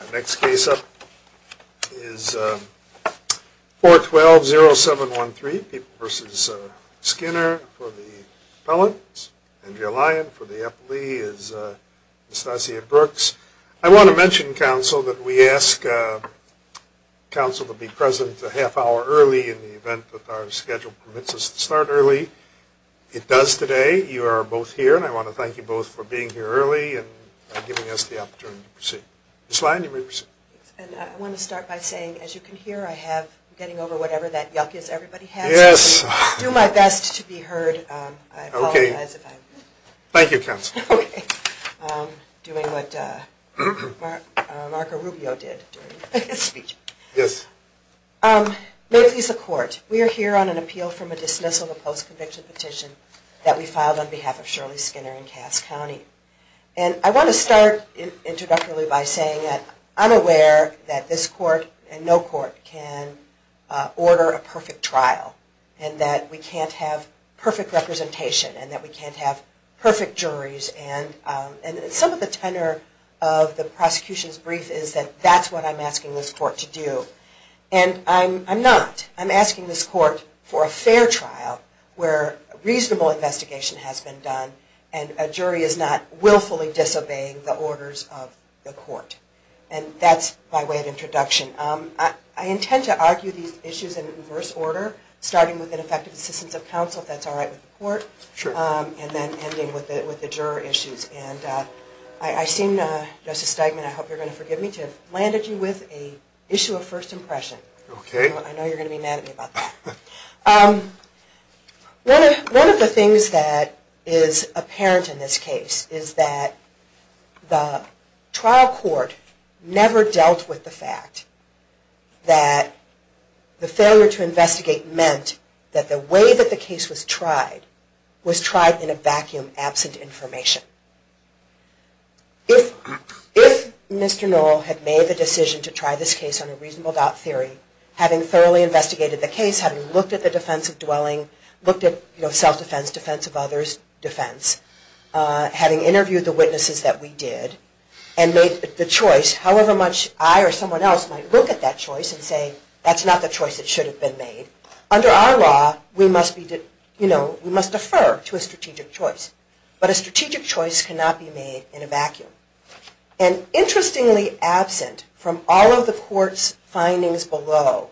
Our next case up is 412-0713, People v. Skinner. For the appellant, Andrea Lyon. For the appellee is Anastasia Brooks. I want to mention, counsel, that we ask counsel to be present a half hour early in the event that our schedule permits us to start early. It does today. You are both here and I want to thank you both for being here early and giving us the opportunity to proceed. Ms. Lyon, you may proceed. I want to start by saying, as you can hear, I have, I'm getting over whatever that yuck is everybody has. Yes. I'll do my best to be heard. Okay. I apologize if I'm… Thank you, counsel. Okay. Doing what Marco Rubio did during his speech. Yes. May it please the court. We are here on an appeal from a dismissal of a post-conviction petition that we filed on behalf of Shirley Skinner in Cass County. And I want to start introductorily by saying that I'm aware that this court and no court can order a perfect trial. And that we can't have perfect representation and that we can't have perfect juries. And some of the tenor of the prosecution's brief is that that's what I'm asking this court to do. And I'm not. I'm asking this court for a fair trial where reasonable investigation has been done and a jury is not willfully disobeying the orders of the court. And that's my way of introduction. I intend to argue these issues in reverse order, starting with ineffective assistance of counsel, if that's all right with the court. Sure. And then ending with the juror issues. And I seem, Justice Steigman, I hope you're going to forgive me, to have landed you with an issue of first impression. Okay. I know you're going to be mad at me about that. One of the things that is apparent in this case is that the trial court never dealt with the fact that the failure to investigate meant that the way that the case was handled was justified in a vacuum, absent information. If Mr. Knoll had made the decision to try this case on a reasonable doubt theory, having thoroughly investigated the case, having looked at the defense of dwelling, looked at self-defense, defense of others, defense, having interviewed the witnesses that we did, and made the choice, however much I or someone else might look at that choice and say, that's not the choice that should have been made. Under our law, we must defer to a strategic choice. But a strategic choice cannot be made in a vacuum. And interestingly absent from all of the court's findings below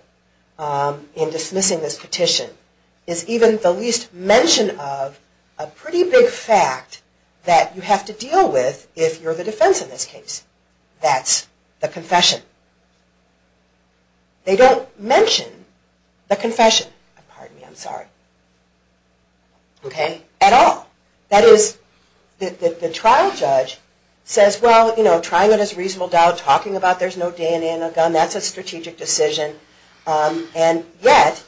in dismissing this petition is even the least mention of a pretty big fact that you have to deal with if you're the defense in this case. That's the confession. They don't mention the confession. Pardon me, I'm sorry. Okay? At all. That is, the trial judge says, well, you know, trying it as a reasonable doubt, talking about there's no DNA in the gun, that's a strategic decision. And yet,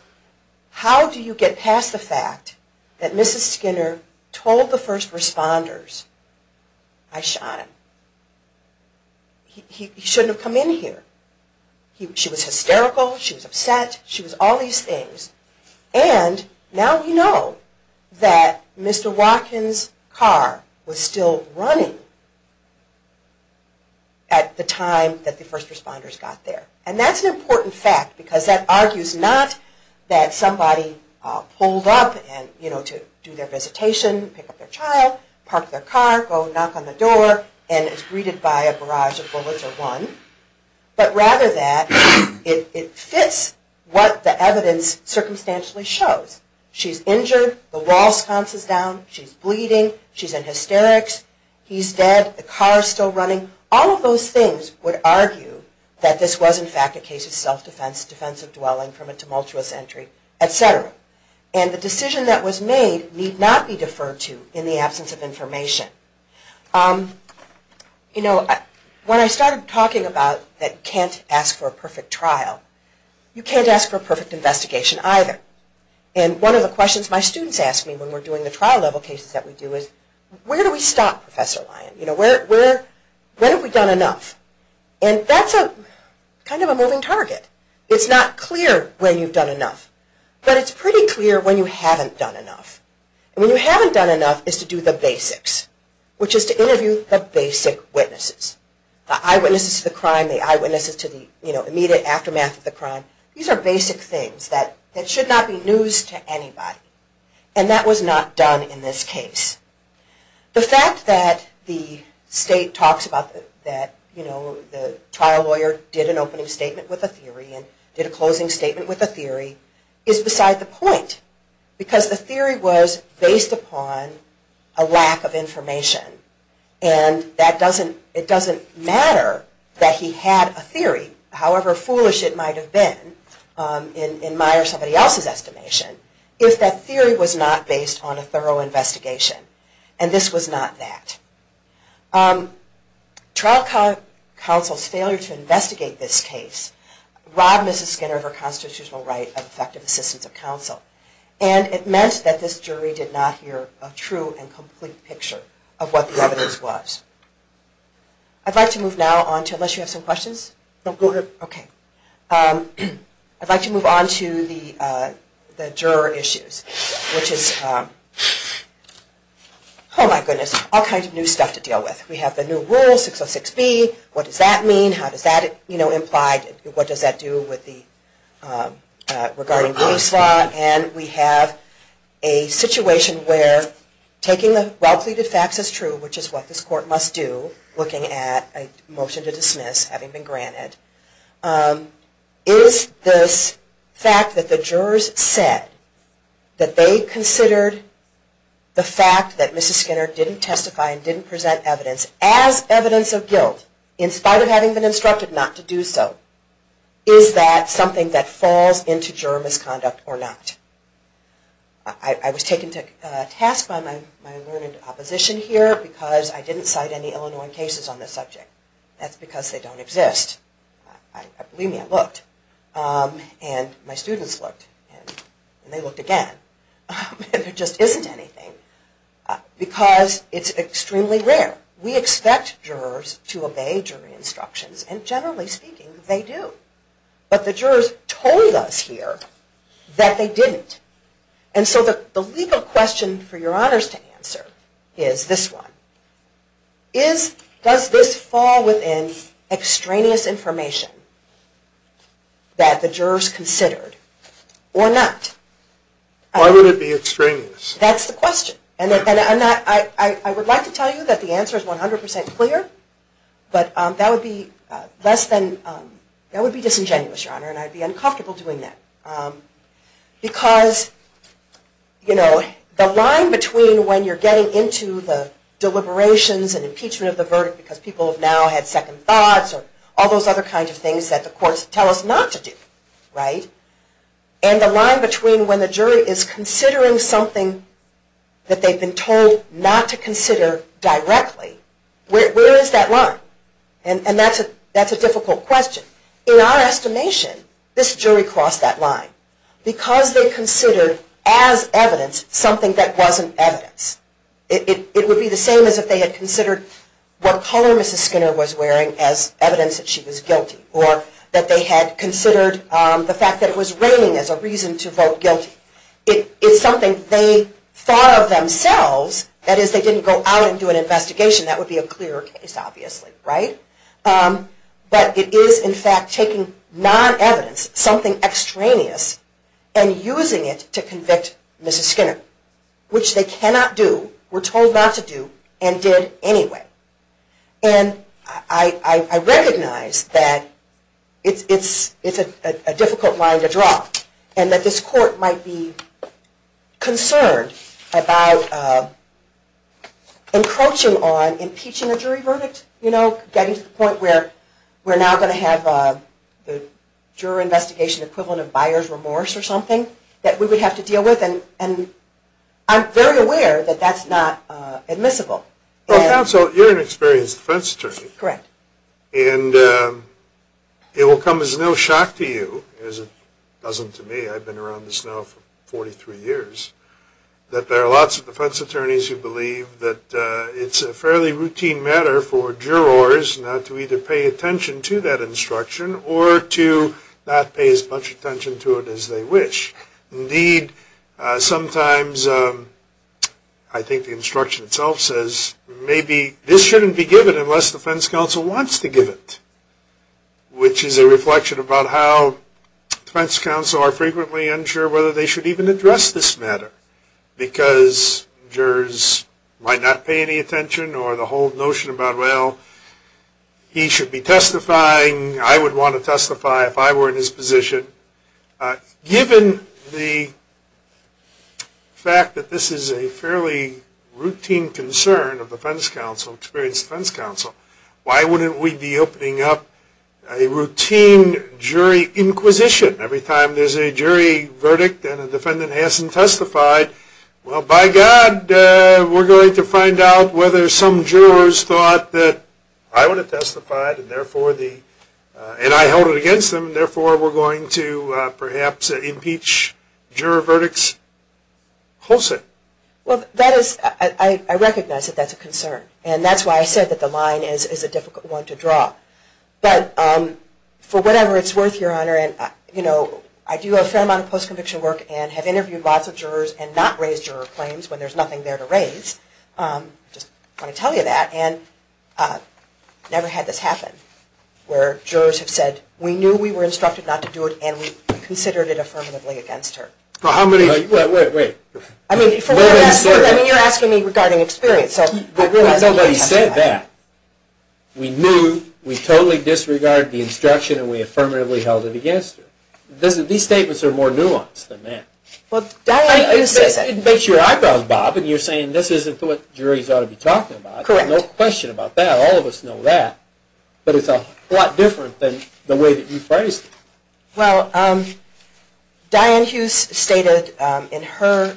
how do you get past the fact that Mrs. Skinner told the first responders, I shot him. He shouldn't have come in here. She was hysterical. She was upset. She was all these things. And now we know that Mr. Watkins' car was still running at the time that the first responders got there. And that's an important fact because that argues not that somebody pulled up, you know, to do their visitation, pick up their child, park their car, go knock on the door, and is greeted by a barrage of bullets or one. But rather that it fits what the evidence circumstantially shows. She's injured. The wall sconce is down. She's bleeding. She's in hysterics. He's dead. The car is still running. All of those things would argue that this was, in fact, a case of self-defense, defensive dwelling from a tumultuous entry, et cetera. And the decision that was made need not be deferred to in the absence of information. You know, when I started talking about that you can't ask for a perfect trial, you can't ask for a perfect investigation either. And one of the questions my students ask me when we're doing the trial-level cases that we do is, where do we stop, Professor Lyon? You know, when have we done enough? And that's kind of a moving target. It's not clear when you've done enough, but it's pretty clear when you haven't done enough. And when you haven't done enough is to do the basics, which is to interview the basic witnesses. The eyewitnesses to the crime, the eyewitnesses to the immediate aftermath of the crime. These are basic things that should not be news to anybody. And that was not done in this case. The fact that the state talks about that, you know, the trial lawyer did an opening statement with a theory, and did a closing statement with a theory, is beside the point. Because the theory was based upon a lack of information. And it doesn't matter that he had a theory, however foolish it might have been, in my or somebody else's estimation, if that theory was not based on a thorough investigation. And this was not that. Trial counsel's failure to investigate this case robbed Mrs. Skinner of her constitutional right of effective assistance of counsel. And it meant that this jury did not hear a true and complete picture of what the evidence was. I'd like to move now on to, unless you have some questions? No, go ahead. I'd like to move on to the juror issues. Which is, oh my goodness, all kinds of new stuff to deal with. We have the new rule, 606B. What does that mean? How does that, you know, imply? What does that do regarding police law? And we have a situation where taking the well-pleaded facts as true, which is what this court must do, looking at a motion to dismiss, having been granted, is this fact that the jurors said that they considered the fact that Mrs. Skinner didn't testify and didn't present evidence as evidence of guilt, in spite of having been instructed not to do so, is that something that falls into juror misconduct or not? I was taken to task by my learned opposition here because I didn't cite any Illinois cases on this subject. That's because they don't exist. Believe me, I looked. And my students looked. And they looked again. There just isn't anything. Because it's extremely rare. We expect jurors to obey jury instructions. And generally speaking, they do. But the jurors told us here that they didn't. And so the legal question for your honors to answer is this one. Does this fall within extraneous information that the jurors considered or not? Why would it be extraneous? That's the question. And I would like to tell you that the answer is 100% clear. But that would be disingenuous, your honor. And I'd be uncomfortable doing that. Because the line between when you're getting into the deliberations and impeachment of the verdict because people have now had second thoughts or all those other kinds of things that the courts tell us not to do, and the line between when the jury is considering something that they've been told not to consider directly, where is that line? And that's a difficult question. In our estimation, this jury crossed that line. Because they considered as evidence something that wasn't evidence. It would be the same as if they had considered what color Mrs. Skinner was wearing as evidence that she was guilty. Or that they had considered the fact that it was raining as a reason to vote guilty. It's something they thought of themselves. That is, they didn't go out and do an investigation. That would be a clearer case, obviously, right? But it is in fact taking non-evidence, something extraneous, and using it to convict Mrs. Skinner. Which they cannot do, were told not to do, and did anyway. And that this court might be concerned about encroaching on impeaching a jury verdict. You know, getting to the point where we're now going to have the juror investigation equivalent of buyer's remorse or something that we would have to deal with. And I'm very aware that that's not admissible. Well, counsel, you're an experienced defense attorney. Correct. And it will come as no shock to you, as it doesn't to me. I've been around this now for 43 years. That there are lots of defense attorneys who believe that it's a fairly routine matter for jurors not to either pay attention to that instruction or to not pay as much attention to it as they wish. Indeed, sometimes I think the instruction itself says, maybe this shouldn't be given unless defense counsel wants to give it. Which is a reflection about how defense counsel are frequently unsure whether they should even address this matter. Because jurors might not pay any attention, or the whole notion about, well, he should be testifying, I would want to testify if I were in his position. Given the fact that this is a fairly routine concern of experienced defense counsel, why wouldn't we be opening up a routine jury inquisition? Every time there's a jury verdict and a defendant hasn't testified, well, by God, we're going to find out whether some jurors thought that I would have testified and I held it against them, and therefore we're going to perhaps impeach juror verdicts. Close it. Well, I recognize that that's a concern. And that's why I said that the line is a difficult one to draw. But for whatever it's worth, Your Honor, I do a fair amount of post-conviction work and have interviewed lots of jurors I just want to tell you that, and never had this happen, where jurors have said, we knew we were instructed not to do it, and we considered it affirmatively against her. Wait, wait, wait. I mean, you're asking me regarding experience. Nobody said that. We knew, we totally disregarded the instruction, and we affirmatively held it against her. These statements are more nuanced than that. It makes your eyebrows bob, and you're saying this isn't what juries ought to be talking about. Correct. No question about that. All of us know that. But it's a lot different than the way that you phrased it. Well, Diane Hughes stated in her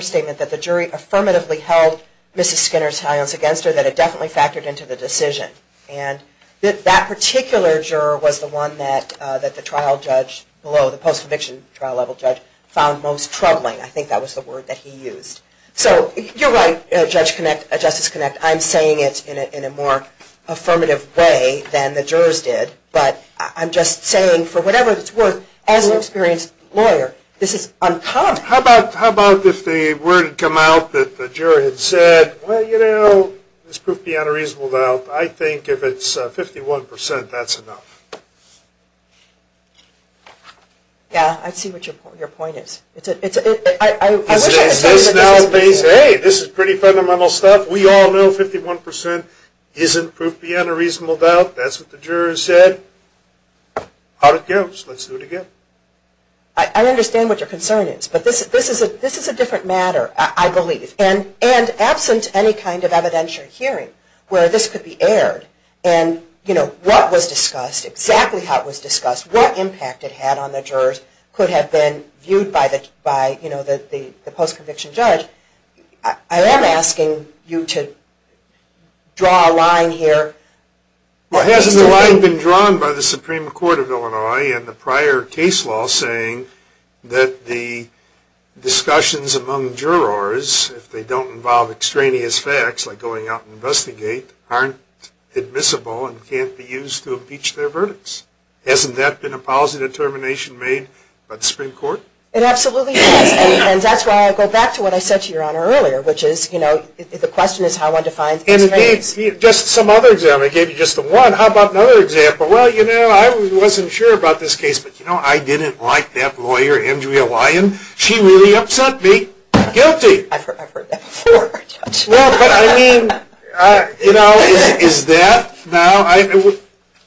statement that the jury affirmatively held Mrs. Skinner's alliance against her, that it definitely factored into the decision. And that particular juror was the one that the trial judge below, the post-conviction trial level judge, found most troubling. I think that was the word that he used. So you're right, Justice Connect. I'm saying it in a more affirmative way than the jurors did, but I'm just saying for whatever it's worth, as an experienced lawyer, this is uncommon. How about if the word had come out that the juror had said, well, you know, I think it's proof beyond a reasonable doubt. I think if it's 51%, that's enough. Yeah, I see what your point is. I wish I could tell you that this is pretty fundamental. Hey, this is pretty fundamental stuff. We all know 51% isn't proof beyond a reasonable doubt. That's what the jurors said. Out it goes. Let's do it again. I understand what your concern is, but this is a different matter, I believe. And absent any kind of evidentiary hearing where this could be aired, and what was discussed, exactly how it was discussed, what impact it had on the jurors could have been viewed by the post-conviction judge, I am asking you to draw a line here. Hasn't the line been drawn by the Supreme Court of Illinois and the prior case law saying that the discussions among jurors, if they don't involve extraneous facts like going out and investigating, aren't admissible and can't be used to impeach their verdicts? Hasn't that been a policy determination made by the Supreme Court? It absolutely has. And that's why I go back to what I said to your Honor earlier, which is, you know, the question is how one defines extraneous facts. Just some other example. I gave you just one. How about another example? Well, you know, I wasn't sure about this case. But, you know, I didn't like that lawyer, Andrea Lyon. She really upset me. Guilty. I've heard that before. Well, but I mean, you know, is that now?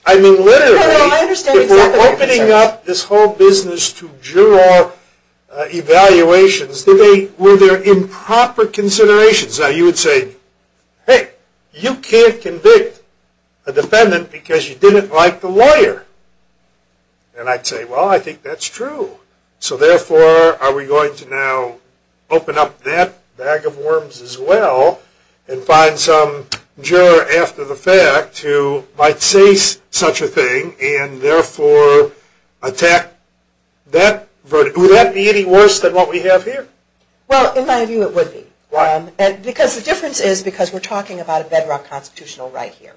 I mean, literally, if we're opening up this whole business to juror evaluations, were there improper considerations? You would say, hey, you can't convict a defendant because you didn't like the lawyer. And I'd say, well, I think that's true. So therefore, are we going to now open up that bag of worms as well and find some juror after the fact who might say such a thing and therefore attack that verdict? Would that be any worse than what we have here? Well, in my view, it would be. Why? Because the difference is because we're talking about a bedrock constitutional right here.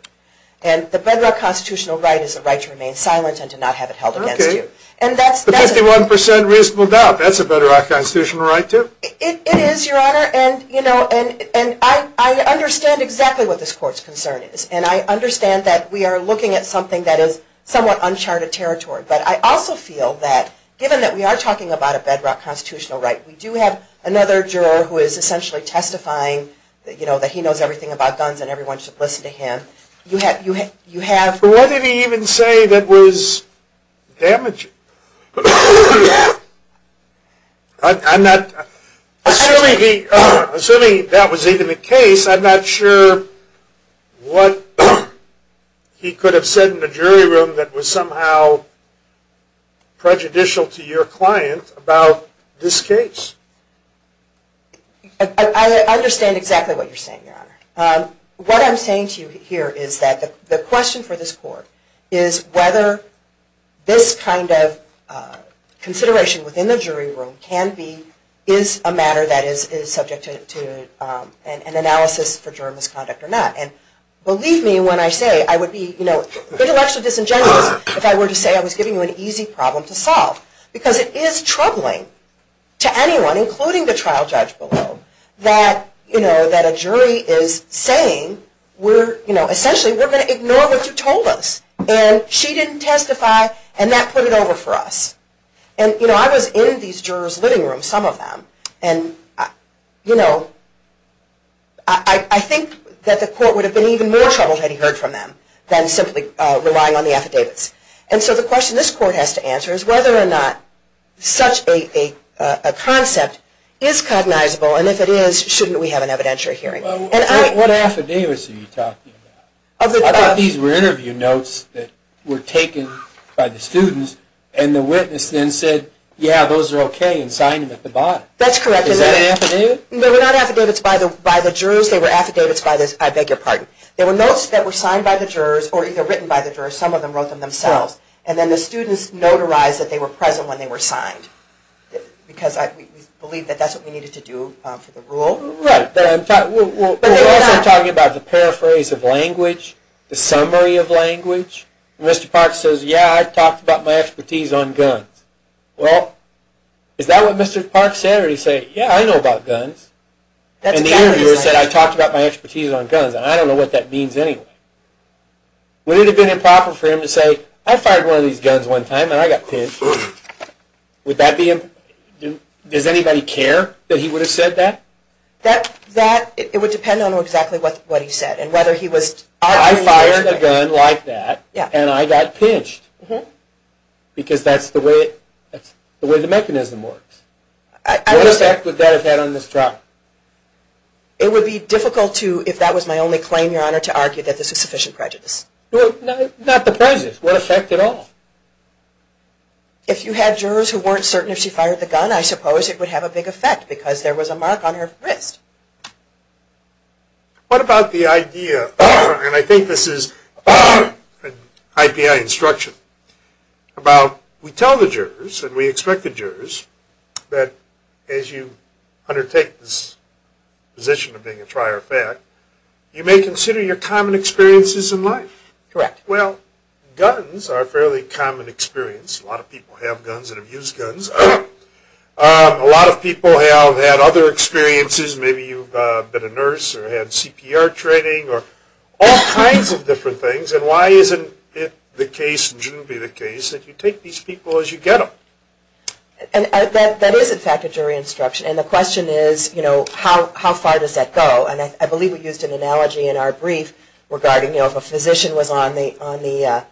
And the bedrock constitutional right is the right to remain silent and to not have it held against you. Okay. The 51% reasonable doubt, that's a bedrock constitutional right too? It is, Your Honor. And, you know, I understand exactly what this court's concern is. And I understand that we are looking at something that is somewhat uncharted territory. But I also feel that given that we are talking about a bedrock constitutional right, we do have another juror who is essentially testifying, you know, that he knows everything about guns and everyone should listen to him. What did he even say that was damaging? Assuming that was even the case, I'm not sure what he could have said in the jury room that was somehow prejudicial to your client about this case. I understand exactly what you're saying, Your Honor. What I'm saying to you here is that the question for this court is whether this kind of consideration within the jury room can be, is a matter that is subject to an analysis for juror misconduct or not. And believe me when I say I would be, you know, intellectually disingenuous if I were to say I was giving you an easy problem to solve. Because it is troubling to anyone, including the trial judge below, that, you know, that a jury is saying we're, you know, essentially we're going to ignore what you told us. And she didn't testify and that put it over for us. And, you know, I was in these jurors' living rooms, some of them, and, you know, I think that the court would have been even more troubled had he heard from them than simply relying on the affidavits. And so the question this court has to answer is whether or not such a concept is cognizable. And if it is, shouldn't we have an evidentiary hearing? What affidavits are you talking about? I thought these were interview notes that were taken by the students and the witness then said, yeah, those are okay, and signed them at the bottom. That's correct. Is that an affidavit? They were not affidavits by the jurors. They were affidavits by the, I beg your pardon, they were notes that were signed by the jurors or either written by the jurors. Some of them wrote them themselves. And then the students notarized that they were present when they were signed because I believe that that's what we needed to do for the rule. Right. But I'm talking about the paraphrase of language, the summary of language. Mr. Parks says, yeah, I talked about my expertise on guns. Well, is that what Mr. Parks said or did he say, yeah, I know about guns? And the interviewer said I talked about my expertise on guns and I don't know what that means anyway. Would it have been improper for him to say, I fired one of these guns one time and I got pinched? Would that be, does anybody care that he would have said that? That, it would depend on exactly what he said and whether he was arguing. I fired a gun like that and I got pinched because that's the way the mechanism works. What effect would that have had on this trial? It would be difficult to, if that was my only claim, Your Honor, to argue that this was sufficient prejudice. Not the poison. What effect at all? If you had jurors who weren't certain if she fired the gun, I suppose it would have a big effect because there was a mark on her wrist. What about the idea, and I think this is an IPI instruction, about we tell the jurors and we expect the jurors that as you undertake this position of being a trier of fact, you may consider your common experiences in life. Correct. Well, guns are a fairly common experience. A lot of people have guns and have used guns. A lot of people have had other experiences. Maybe you've been a nurse or had CPR training or all kinds of different things. And why isn't it the case, and shouldn't be the case, that you take these people as you get them? That is, in fact, a jury instruction. And the question is, how far does that go? And I believe we used an analogy in our brief regarding if a physician was on the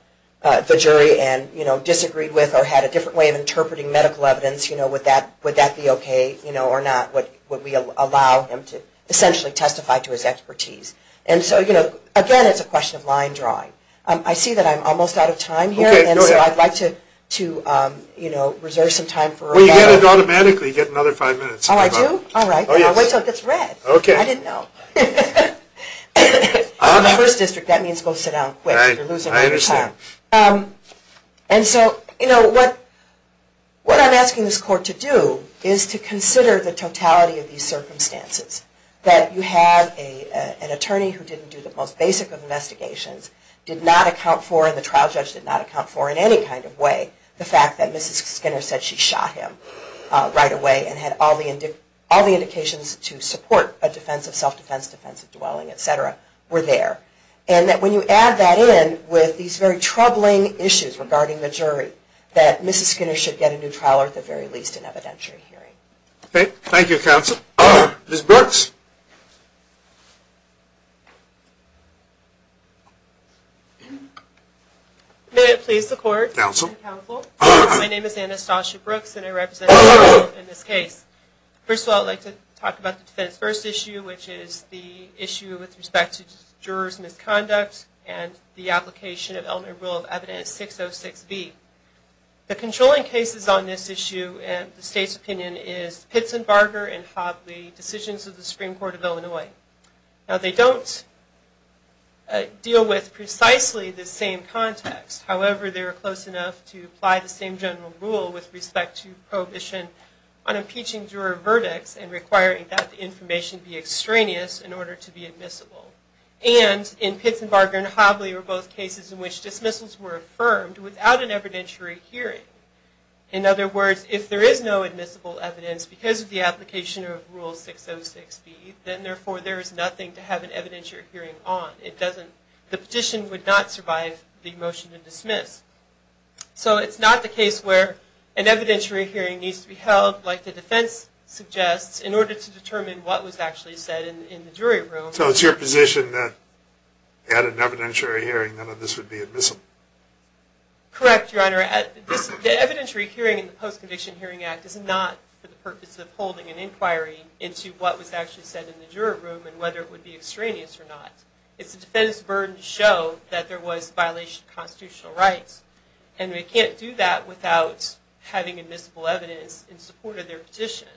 jury and disagreed with or had a different way of interpreting medical evidence, would that be okay or not? Would we allow him to essentially testify to his expertise? And so, again, it's a question of line drawing. I see that I'm almost out of time here. Okay. Go ahead. And so I'd like to reserve some time for… Well, you get it automatically. You get another five minutes. Oh, I do? All right. I'll wait until it gets red. Okay. I didn't know. On the first district, that means go sit down quick. Right. I understand. You're losing all your time. And so, you know, what I'm asking this court to do is to consider the totality of these circumstances. That you have an attorney who didn't do the most basic of investigations, did not account for, and the trial judge did not account for in any kind of way, the fact that Mrs. Skinner said she shot him right away and had all the indications to support a defense of self-defense, defense of dwelling, et cetera, were there. And that when you add that in with these very troubling issues regarding the jury, that Mrs. Skinner should get a new trial or at the very least an evidentiary hearing. Okay. Thank you, counsel. Ms. Brooks. May it please the court. Counsel. Counsel. My name is Anastasia Brooks, and I represent the court in this case. First of all, I'd like to talk about the defense first issue, which is the issue with respect to jurors' misconduct and the application of Elmer's Rule of Evidence 606B. The controlling cases on this issue in the state's opinion is Pitts and Barger and Hobley decisions of the screen. Now, they don't deal with precisely the same context. However, they were close enough to apply the same general rule with respect to prohibition on impeaching juror verdicts and requiring that the information be extraneous in order to be admissible. And in Pitts and Barger and Hobley were both cases in which dismissals were affirmed without an evidentiary hearing. In other words, if there is no admissible evidence because of the application of Rule 606B, then therefore there is nothing to have an evidentiary hearing on. The petition would not survive the motion to dismiss. So it's not the case where an evidentiary hearing needs to be held, like the defense suggests, in order to determine what was actually said in the jury room. So it's your position that at an evidentiary hearing none of this would be admissible? Correct, Your Honor. The evidentiary hearing in the Post-Conviction Hearing Act is not for the purpose of holding an inquiry into what was actually said in the juror room and whether it would be extraneous or not. It's the defense's burden to show that there was violation of constitutional rights. And they can't do that without having admissible evidence in support of their petition.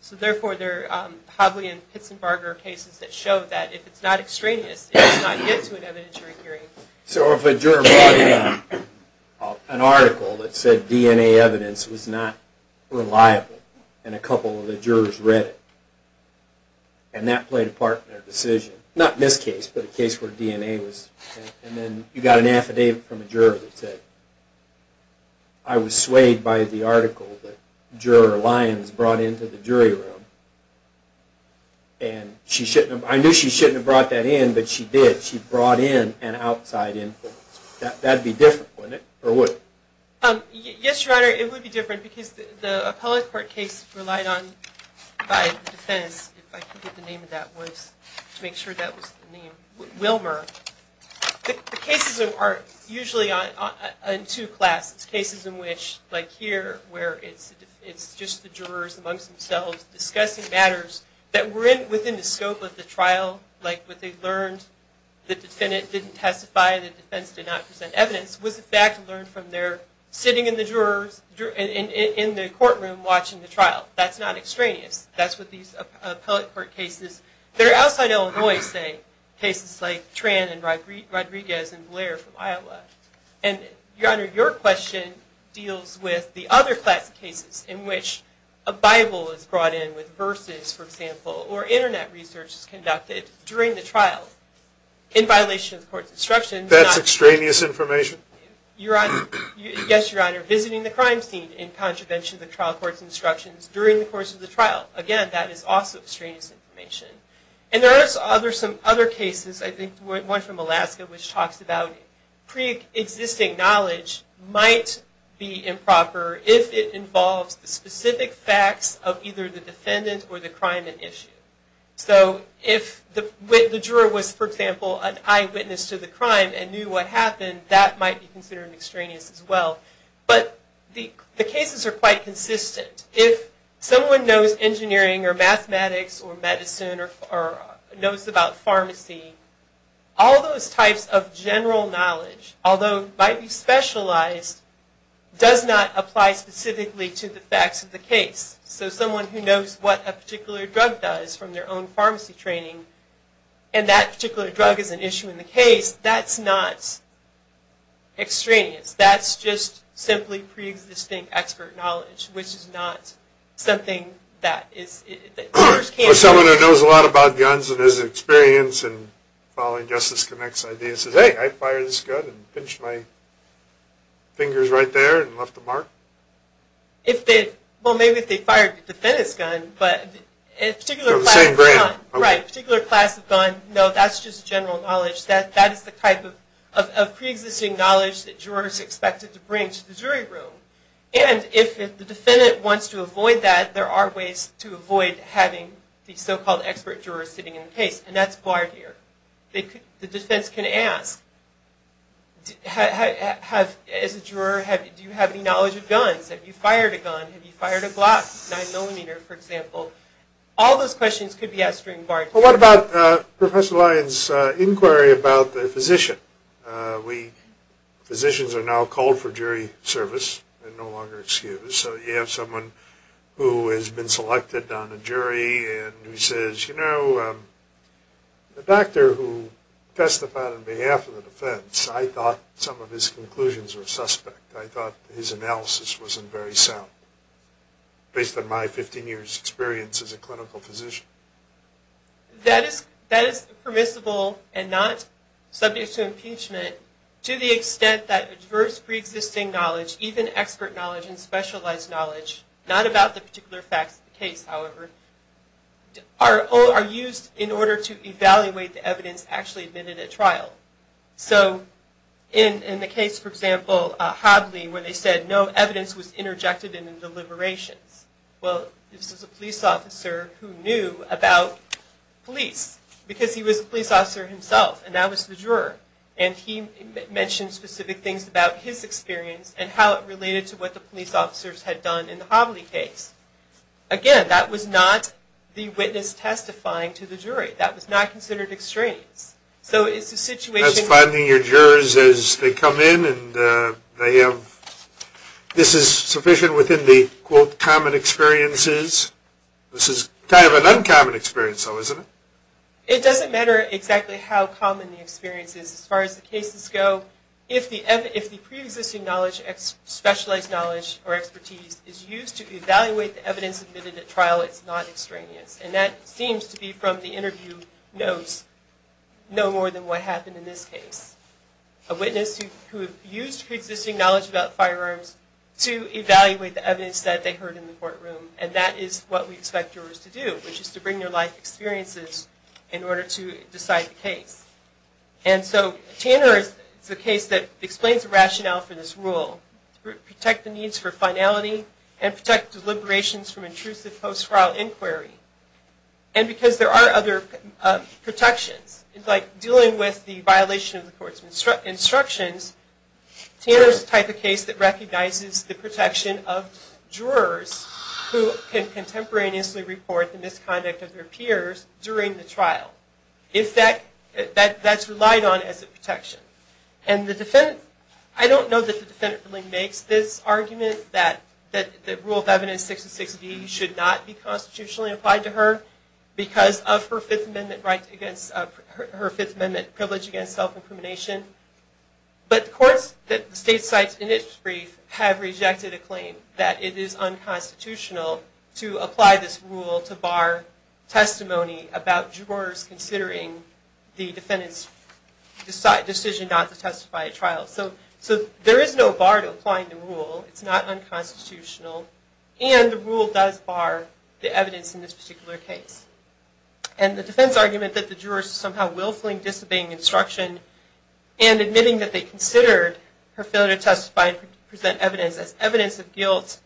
So therefore there are Hobley and Pitts and Barger cases that show that if it's not extraneous, it does not get to an evidentiary hearing. So if a juror brought in an article that said DNA evidence was not reliable and a couple of the jurors read it, and that played a part in their decision, not in this case, but a case where DNA was, and then you got an affidavit from a juror that said, I was swayed by the article that Juror Lyons brought into the jury room, and I knew she shouldn't have brought that in, but she did. But she brought in an outside influence. That would be different, wouldn't it? Or would it? Yes, Your Honor, it would be different because the appellate court case relied on, by defense, if I can get the name of that, to make sure that was the name, Wilmer. The cases are usually in two classes. Cases in which, like here, where it's just the jurors amongst themselves discussing matters that were within the scope of the trial, like what they learned, the defendant didn't testify, the defense did not present evidence, was in fact learned from their sitting in the courtroom watching the trial. That's not extraneous. That's what these appellate court cases, they're outside Illinois, say, cases like Tran and Rodriguez and Blair from Iowa. And, Your Honor, your question deals with the other class of cases in which a Bible is brought in with verses, for example, or Internet research is conducted during the trial in violation of the court's instructions. That's extraneous information? Yes, Your Honor. Visiting the crime scene in contravention of the trial court's instructions during the course of the trial. Again, that is also extraneous information. And there are some other cases, I think one from Alaska, which talks about pre-existing knowledge might be improper if it involves the specific facts of either the defendant or the crime at issue. So if the juror was, for example, an eyewitness to the crime and knew what happened, that might be considered extraneous as well. But the cases are quite consistent. If someone knows engineering or mathematics or medicine or knows about pharmacy, all those types of general knowledge, although might be specialized, does not apply specifically to the facts of the case. So someone who knows what a particular drug does from their own pharmacy training and that particular drug is an issue in the case, that's not extraneous. That's just simply pre-existing expert knowledge, which is not something that jurors can't do. Or someone who knows a lot about guns and has experience in following Justice Connect's ideas and says, hey, I fired this gun and pinched my fingers right there and left a mark? Well, maybe if they fired the defendant's gun, but a particular class of gun, no, that's just general knowledge. That is the type of pre-existing knowledge that jurors are expected to bring to the jury room. And if the defendant wants to avoid that, there are ways to avoid having the so-called expert jurors sitting in the case, and that's barred here. The defense can ask, as a juror, do you have any knowledge of guns? Have you fired a gun? Have you fired a Glock 9mm, for example? All those questions could be asked during barred hearing. Well, what about Professor Lyon's inquiry about the physician? Physicians are now called for jury service and no longer excused. So you have someone who has been selected on a jury and who says, you know, the doctor who testified on behalf of the defense, I thought some of his conclusions were suspect. I thought his analysis wasn't very sound, based on my 15 years' experience as a clinical physician. That is permissible and not subject to impeachment to the extent that adverse pre-existing knowledge, even expert knowledge and specialized knowledge, not about the particular facts of the case, however, are used in order to evaluate the evidence actually admitted at trial. So in the case, for example, Hobley, where they said no evidence was interjected in the deliberations. Well, this was a police officer who knew about police, because he was a police officer himself, and that was the juror, and he mentioned specific things about his experience and how it related to what the police officers had done in the Hobley case. Again, that was not the witness testifying to the jury. That was not considered extraneous. So it's a situation. That's finding your jurors as they come in, and this is sufficient within the, quote, common experiences. This is kind of an uncommon experience, though, isn't it? It doesn't matter exactly how common the experience is. As far as the cases go, if the pre-existing knowledge, specialized knowledge, or expertise is used to evaluate the evidence admitted at trial, it's not extraneous. And that seems to be from the interview notes no more than what happened in this case. A witness who used pre-existing knowledge about firearms to evaluate the evidence that they heard in the courtroom, and that is what we expect jurors to do, which is to bring their life experiences in order to decide the case. And so Tanner is the case that explains the rationale for this rule, protect the needs for finality, and protect deliberations from intrusive post-trial inquiry. And because there are other protections, like dealing with the violation of the court's instructions, Tanner is the type of case that recognizes the protection of jurors who can contemporaneously report the misconduct of their peers during the trial. That's relied on as a protection. I don't know that the defendant really makes this argument that the Rule of Evidence 660 should not be constitutionally applied to her because of her Fifth Amendment privilege against self-incrimination. But the courts that the state cites in its brief have rejected a claim that it is unconstitutional to apply this rule to bar testimony about jurors considering the defendant's decision not to testify at trial. So there is no bar to applying the rule. It's not unconstitutional. And the rule does bar the evidence in this particular case. And the defense argument that the jurors are somehow willfully disobeying instruction and admitting that they considered her failure to testify and present evidence as evidence of guilt,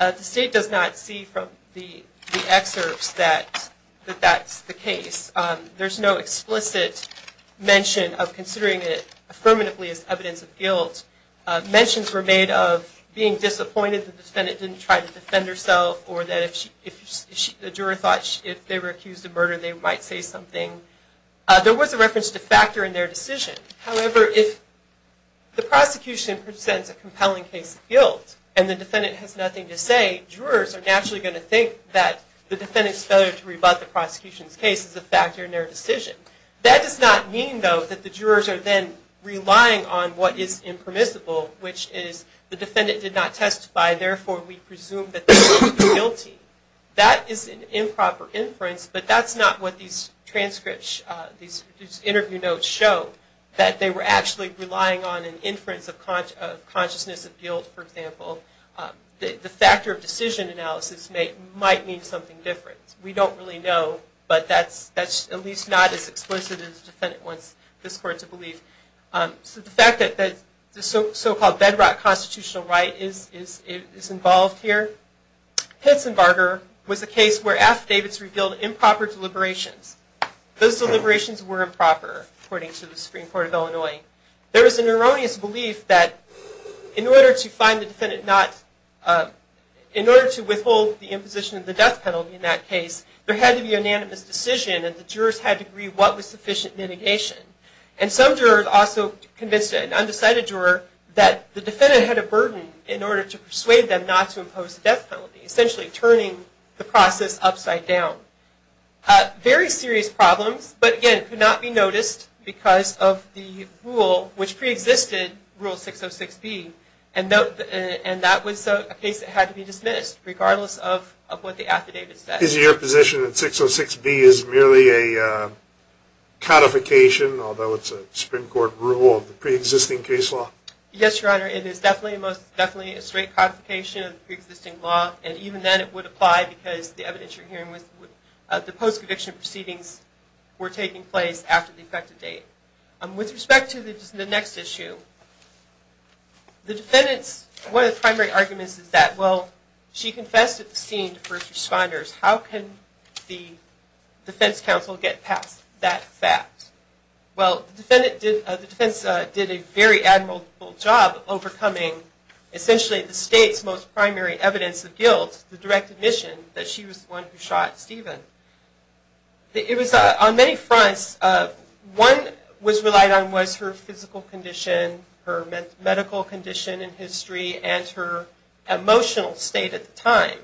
the state does not see from the excerpts that that's the case. There's no explicit mention of considering it affirmatively as evidence of guilt. Mentions were made of being disappointed that the defendant didn't try to defend herself or that the juror thought if they were accused of murder they might say something. There was a reference to factor in their decision. However, if the prosecution presents a compelling case of guilt and the defendant has nothing to say, jurors are naturally going to think that the defendant's failure to rebut the prosecution's case is a factor in their decision. That does not mean, though, that the jurors are then relying on what is impermissible, which is the defendant did not testify, therefore we presume that they are guilty. That is an improper inference, but that's not what these transcripts, these interview notes show, that they were actually relying on an inference of consciousness of guilt, for example. The factor of decision analysis might mean something different. We don't really know, but that's at least not as explicit as the defendant wants this court to believe. The fact that the so-called bedrock constitutional right is involved here. Pitsenbarger was a case where affidavits revealed improper deliberations. Those deliberations were improper, according to the Supreme Court of Illinois. There was an erroneous belief that in order to withhold the imposition of the death penalty in that case, there had to be unanimous decision and the jurors had to agree what was sufficient mitigation. And some jurors also convinced an undecided juror that the defendant had a burden in order to persuade them not to impose the death penalty, essentially turning the process upside down. Very serious problems, but again, could not be noticed because of the rule which preexisted, Rule 606B, and that was a case that had to be dismissed, regardless of what the affidavit said. Is it your position that 606B is merely a codification, although it's a Supreme Court rule, of the preexisting case law? Yes, Your Honor, it is definitely a straight codification of the preexisting law, and even then it would apply because the evidence you're hearing was the post-conviction proceedings were taking place after the effective date. With respect to the next issue, the defendant's primary argument is that, well, she confessed at the scene to first responders. How can the defense counsel get past that fact? Well, the defense did a very admirable job overcoming essentially the state's most primary evidence of guilt, the direct admission that she was the one who shot Stephen. It was on many fronts, one was relied on was her physical condition, her medical condition in history, and her emotional state at the time.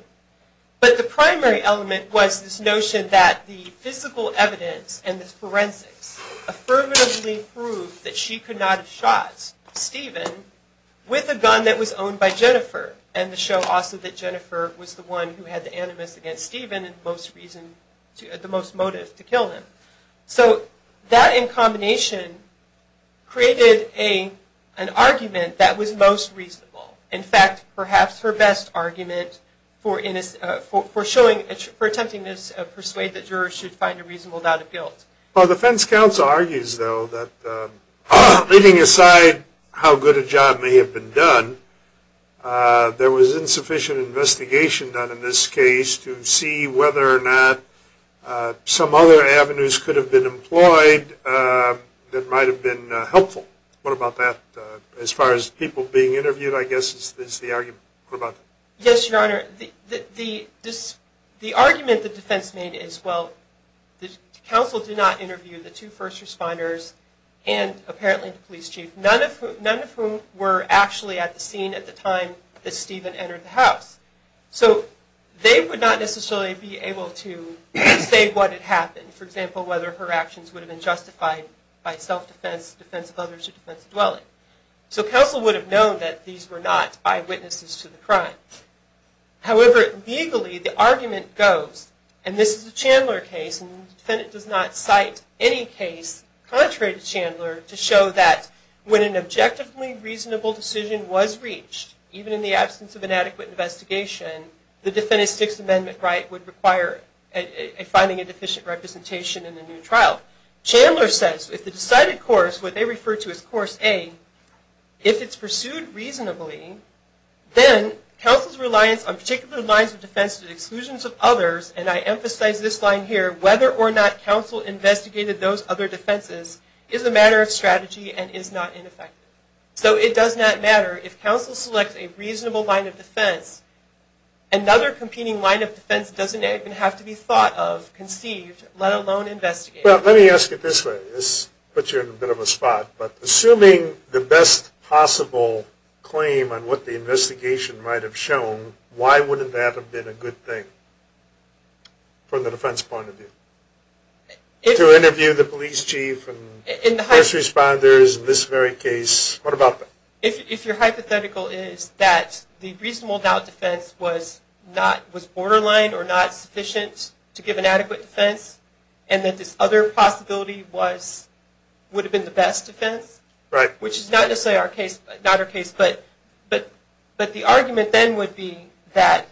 But the primary element was this notion that the physical evidence and the forensics affirmatively proved that she could not have shot Stephen with a gun that was owned by Jennifer, and to show also that Jennifer was the one who had the animus against Stephen and the most motive to kill him. So that in combination created an argument that was most reasonable. In fact, perhaps her best argument for attempting to persuade the jurors to find a reasonable doubt of guilt. Well, the defense counsel argues, though, that leaving aside how good a job may have been done, there was insufficient investigation done in this case to see whether or not some other avenues could have been employed that might have been helpful. What about that, as far as people being interviewed, I guess, is the argument? Yes, Your Honor. The argument the defense made is, well, the counsel did not interview the two first responders and apparently the police chief, none of whom were actually at the scene at the time that Stephen entered the house. So they would not necessarily be able to say what had happened. For example, whether her actions would have been justified by self-defense, defense of others, or defense of dwelling. So counsel would have known that these were not eyewitnesses to the crime. However, legally, the argument goes, and this is a Chandler case, and the defendant does not cite any case contrary to Chandler to show that when an objectively reasonable decision was reached, even in the absence of an adequate investigation, the defendant's Sixth Amendment right would require finding a deficient representation in a new trial. Chandler says, if the decided course, what they refer to as Course A, if it's pursued reasonably, then counsel's reliance on particular lines of defense and exclusions of others, and I emphasize this line here, whether or not counsel investigated those other defenses, is a matter of strategy and is not ineffective. So it does not matter if counsel selects a reasonable line of defense, another competing line of defense doesn't even have to be thought of, conceived, let alone investigated. Well, let me ask it this way. This puts you in a bit of a spot, but assuming the best possible claim on what the investigation might have shown, why wouldn't that have been a good thing from the defense point of view? To interview the police chief and first responders in this very case, what about that? If your hypothetical is that the reasonable doubt defense was borderline or not sufficient to give an adequate defense, and that this other possibility would have been the best defense, which is not necessarily our case, but the argument then would be that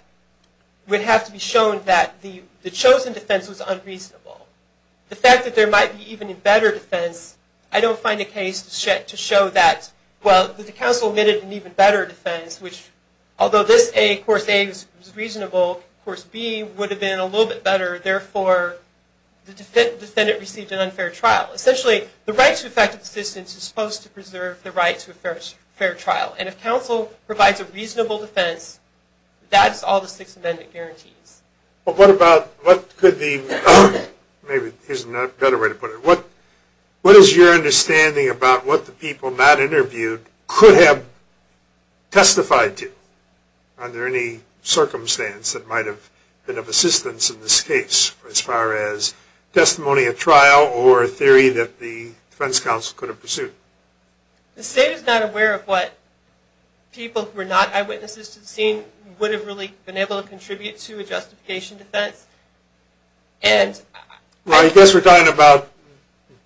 it would have to be shown that the chosen defense was unreasonable. The fact that there might be even a better defense, I don't find a case to show that, well, the counsel admitted an even better defense, which although this Course A was reasonable, Course B would have been a little bit better, therefore the defendant received an unfair trial. Essentially, the right to effective assistance is supposed to preserve the right to a fair trial, and if counsel provides a reasonable defense, that's all the Sixth Amendment guarantees. Well, what about, what could the, maybe here's a better way to put it, what is your understanding about what the people not interviewed could have testified to, under any circumstance that might have been of assistance in this case, as far as testimony at trial or a theory that the defense counsel could have pursued? The State is not aware of what people who are not eyewitnesses to the scene would have really been able to contribute to a justification defense, and... Well, I guess we're talking about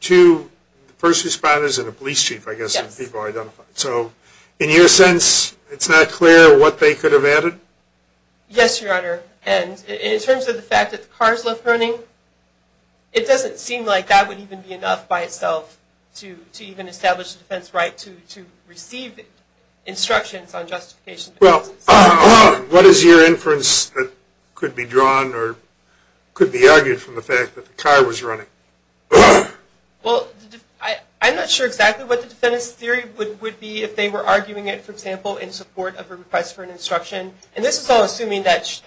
two first responders and a police chief, I guess, that people identified. So, in your sense, it's not clear what they could have added? Yes, Your Honor, and in terms of the fact that the cars left running, it doesn't seem like that would even be enough by itself to even establish a defense right to receive instructions on justification. Well, what is your inference that could be drawn or could be argued from the fact that the car was running? Well, I'm not sure exactly what the defendant's theory would be if they were arguing it, for example, in support of a request for an instruction. And this is all assuming that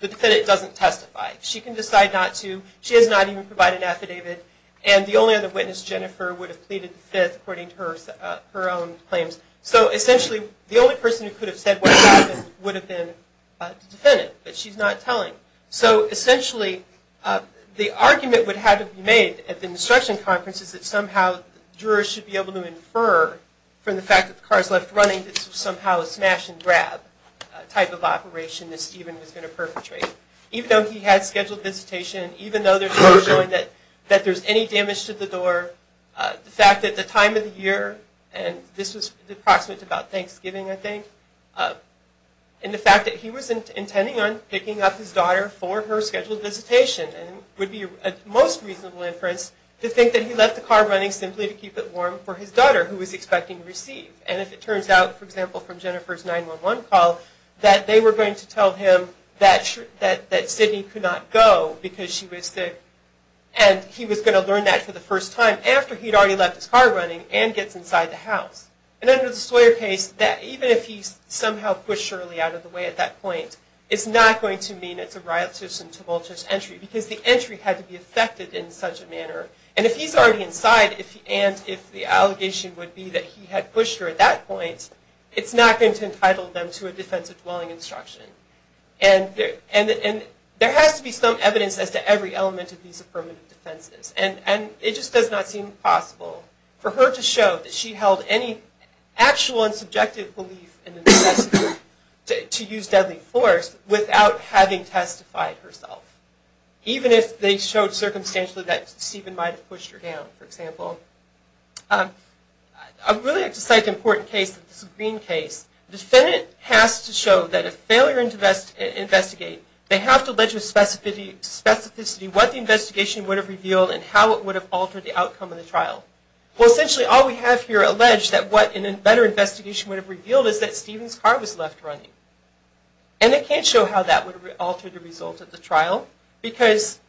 the defendant doesn't testify. She can decide not to. She has not even provided an affidavit. And the only other witness, Jennifer, would have pleaded the Fifth, according to her own claims. So, essentially, the only person who could have said what happened would have been the defendant, but she's not telling. So, essentially, the argument would have to be made at the instruction conference is that somehow jurors should be able to infer from the fact that the cars left running that this was somehow a smash-and-grab type of operation that Stephen was going to perpetrate. Even though he had scheduled visitation, even though there's no showing that there's any damage to the door, the fact that the time of the year, and this was approximately about Thanksgiving, I think, and the fact that he was intending on picking up his daughter for her scheduled visitation would be a most reasonable inference to think that he left the car running simply to keep it warm for his daughter, who he was expecting to receive. And if it turns out, for example, from Jennifer's 911 call, that they were going to tell him that Sidney could not go because she was sick, and he was going to learn that for the first time after he'd already left his car running and gets inside the house. And under the Sawyer case, even if he somehow pushed Shirley out of the way at that point, it's not going to mean it's a riotous and tumultuous entry, because the entry had to be effected in such a manner. And if he's already inside, and if the allegation would be that he had pushed her at that point, it's not going to entitle them to a defensive dwelling instruction. And there has to be some evidence as to every element of these affirmative defenses. And it just does not seem possible for her to show that she held any actual and subjective belief to use deadly force without having testified herself. Even if they showed circumstantially that Steven might have pushed her down, for example. I'd really like to cite an important case, this Green case. The defendant has to show that if they were to investigate, they have to allege with specificity what the investigation would have revealed and how it would have altered the outcome of the trial. Well, essentially all we have here alleged that what a better investigation would have revealed is that Steven's car was left running. And it can't show how that would alter the result of the trial, because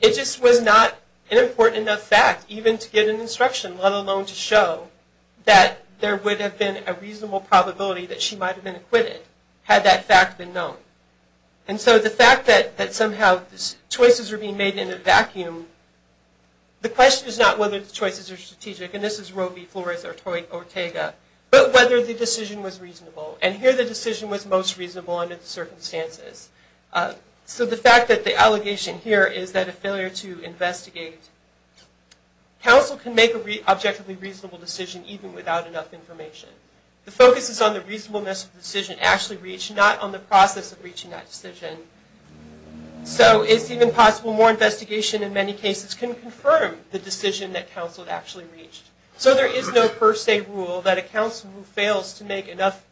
it just was not an important enough fact, even to get an instruction, let alone to show that there would have been a reasonable probability that she might have been acquitted, had that fact been known. And so the fact that somehow choices are being made in a vacuum, the question is not whether the choices are strategic, and this is Robey, Flores, or Toyt, or Tega, but whether the decision was reasonable. And here the decision was most reasonable under the circumstances. So the fact that the allegation here is that a failure to investigate, counsel can make an objectively reasonable decision even without enough information. The focus is on the reasonableness of the decision actually reached, not on the process of reaching that decision. So it's even possible more investigation in many cases can confirm the decision that counsel actually reached. So there is no per se rule that a counsel who fails to make enough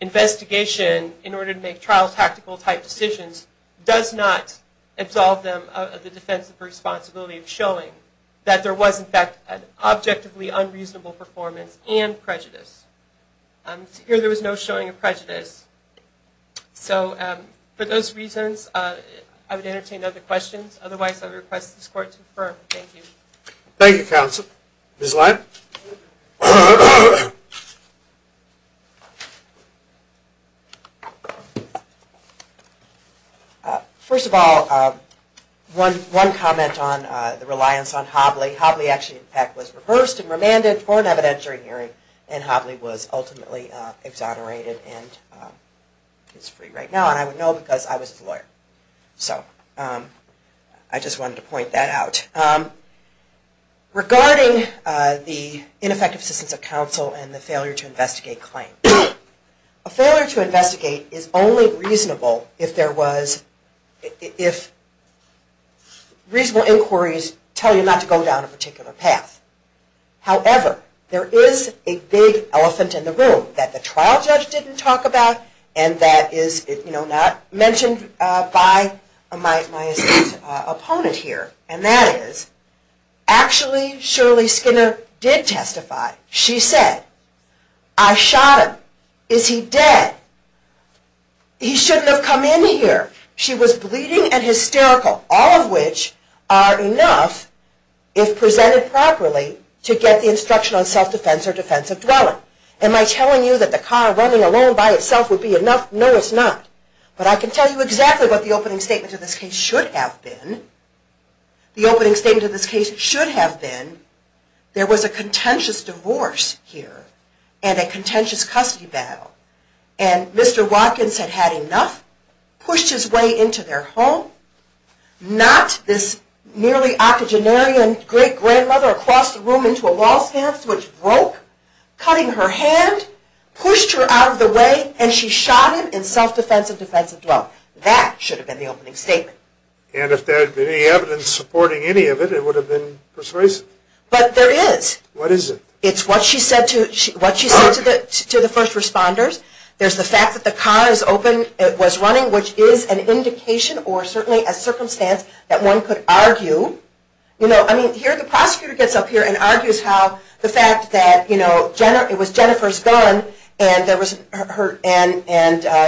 investigation in order to make trial-tactical type decisions does not absolve them of the defensive responsibility of showing that there was in fact an objectively unreasonable performance and prejudice. So for those reasons, I would entertain other questions. Otherwise, I would request this Court to confer. Thank you. Thank you, counsel. Ms. Lam? First of all, one comment on the reliance on Hobley. Hobley actually in fact was reversed and remanded for an evidentiary hearing, and Hobley was ultimately exonerated and is free right now. And I would know because I was his lawyer. So I just wanted to point that out. Regarding the ineffective assistance of counsel and the failure to investigate claim, a failure to investigate is only reasonable if reasonable inquiries tell you not to go down a particular path. However, there is a big elephant in the room that the trial judge didn't talk about, and that is not mentioned by my opponent here, and that is actually Shirley Skinner did testify. She said, I shot him. Is he dead? He shouldn't have come in here. She was bleeding and hysterical, all of which are enough, if presented properly, to get the instruction on self-defense or defense of dwelling. Am I telling you that the car running alone by itself would be enough? No, it's not. But I can tell you exactly what the opening statement of this case should have been. The opening statement of this case should have been, there was a contentious divorce here and a contentious custody battle, and Mr. Watkins had had enough, pushed his way into their home, knocked this nearly octogenarian great-grandmother across the room into a wall stance which broke, cutting her hand, pushed her out of the way, and she shot him in self-defense and defense of dwelling. That should have been the opening statement. And if there had been any evidence supporting any of it, it would have been persuasive. But there is. What is it? It's what she said to the first responders. There's the fact that the car is open, it was running, which is an indication or certainly a circumstance that one could argue. Here the prosecutor gets up here and argues how the fact that it was Jennifer's gun and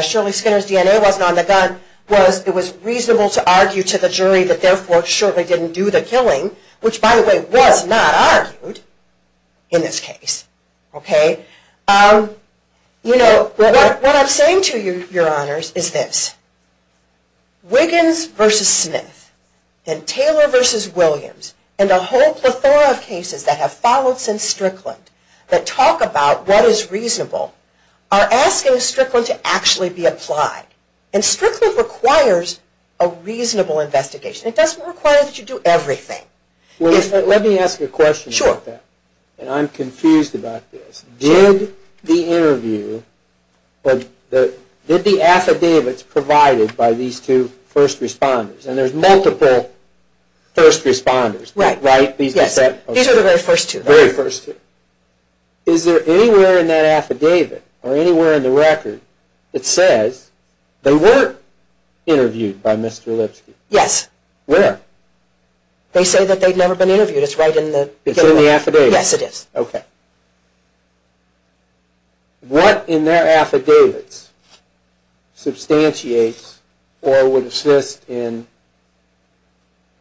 Shirley Skinner's DNA wasn't on the gun, it was reasonable to argue to the jury that therefore Shirley didn't do the killing, which by the way was not argued in this case. What I'm saying to you, Your Honors, is this. Wiggins v. Smith and Taylor v. Williams and the whole plethora of cases that have followed since Strickland that talk about what is reasonable are asking Strickland to actually be applied. And Strickland requires a reasonable investigation. It doesn't require that you do everything. Let me ask you a question about that. And I'm confused about this. Did the interview, did the affidavits provided by these two first responders, and there's multiple first responders, right? These are the very first two. Is there anywhere in that affidavit or anywhere in the record that says they were interviewed by Mr. Lipsky? Yes. Where? They say that they've never been interviewed. It's right in the affidavit. It's in the affidavit? Yes, it is. Okay. What in their affidavits substantiates or would assist in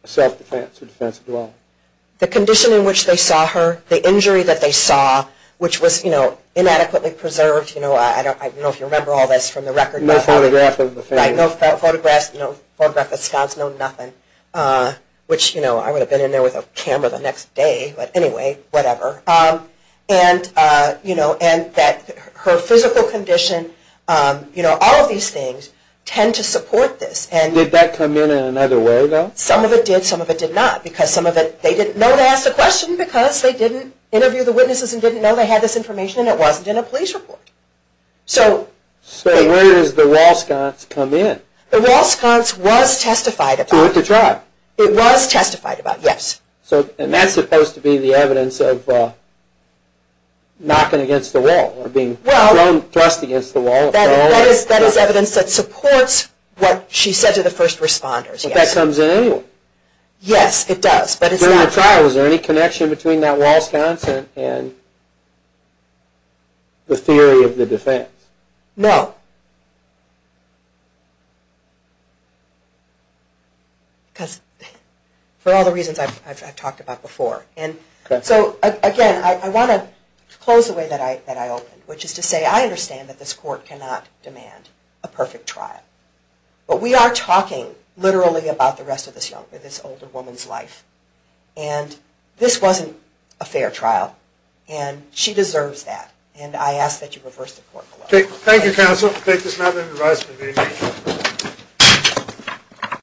self-defense or defensive dwelling? The condition in which they saw her, the injury that they saw, which was inadequately preserved. I don't know if you remember all this from the record. No photograph of the family. Right, no photographs, no photograph of scots, no nothing, which I would have been in there with a camera the next day. But anyway, whatever. And that her physical condition, all of these things tend to support this. Did that come in in another way, though? Some of it did. Some of it did not because some of it they didn't know to ask the question because they didn't interview the witnesses and didn't know they had this information and it wasn't in a police report. So where does the wall sconce come in? The wall sconce was testified about. It went to trial. It was testified about, yes. And that's supposed to be the evidence of knocking against the wall or being thrown, thrust against the wall. That is evidence that supports what she said to the first responders, yes. But that comes in anyway. Yes, it does, but it's not. In the trial, is there any connection between that wall sconce and the theory of the defense? No. Because for all the reasons I've talked about before. So again, I want to close the way that I opened, which is to say I understand that this court cannot demand a perfect trial. But we are talking literally about the rest of this young woman, the rest of this young woman's life. And this wasn't a fair trial. And she deserves that. And I ask that you reverse the court law. Thank you, counsel. We'll take this matter into the rise for the meeting.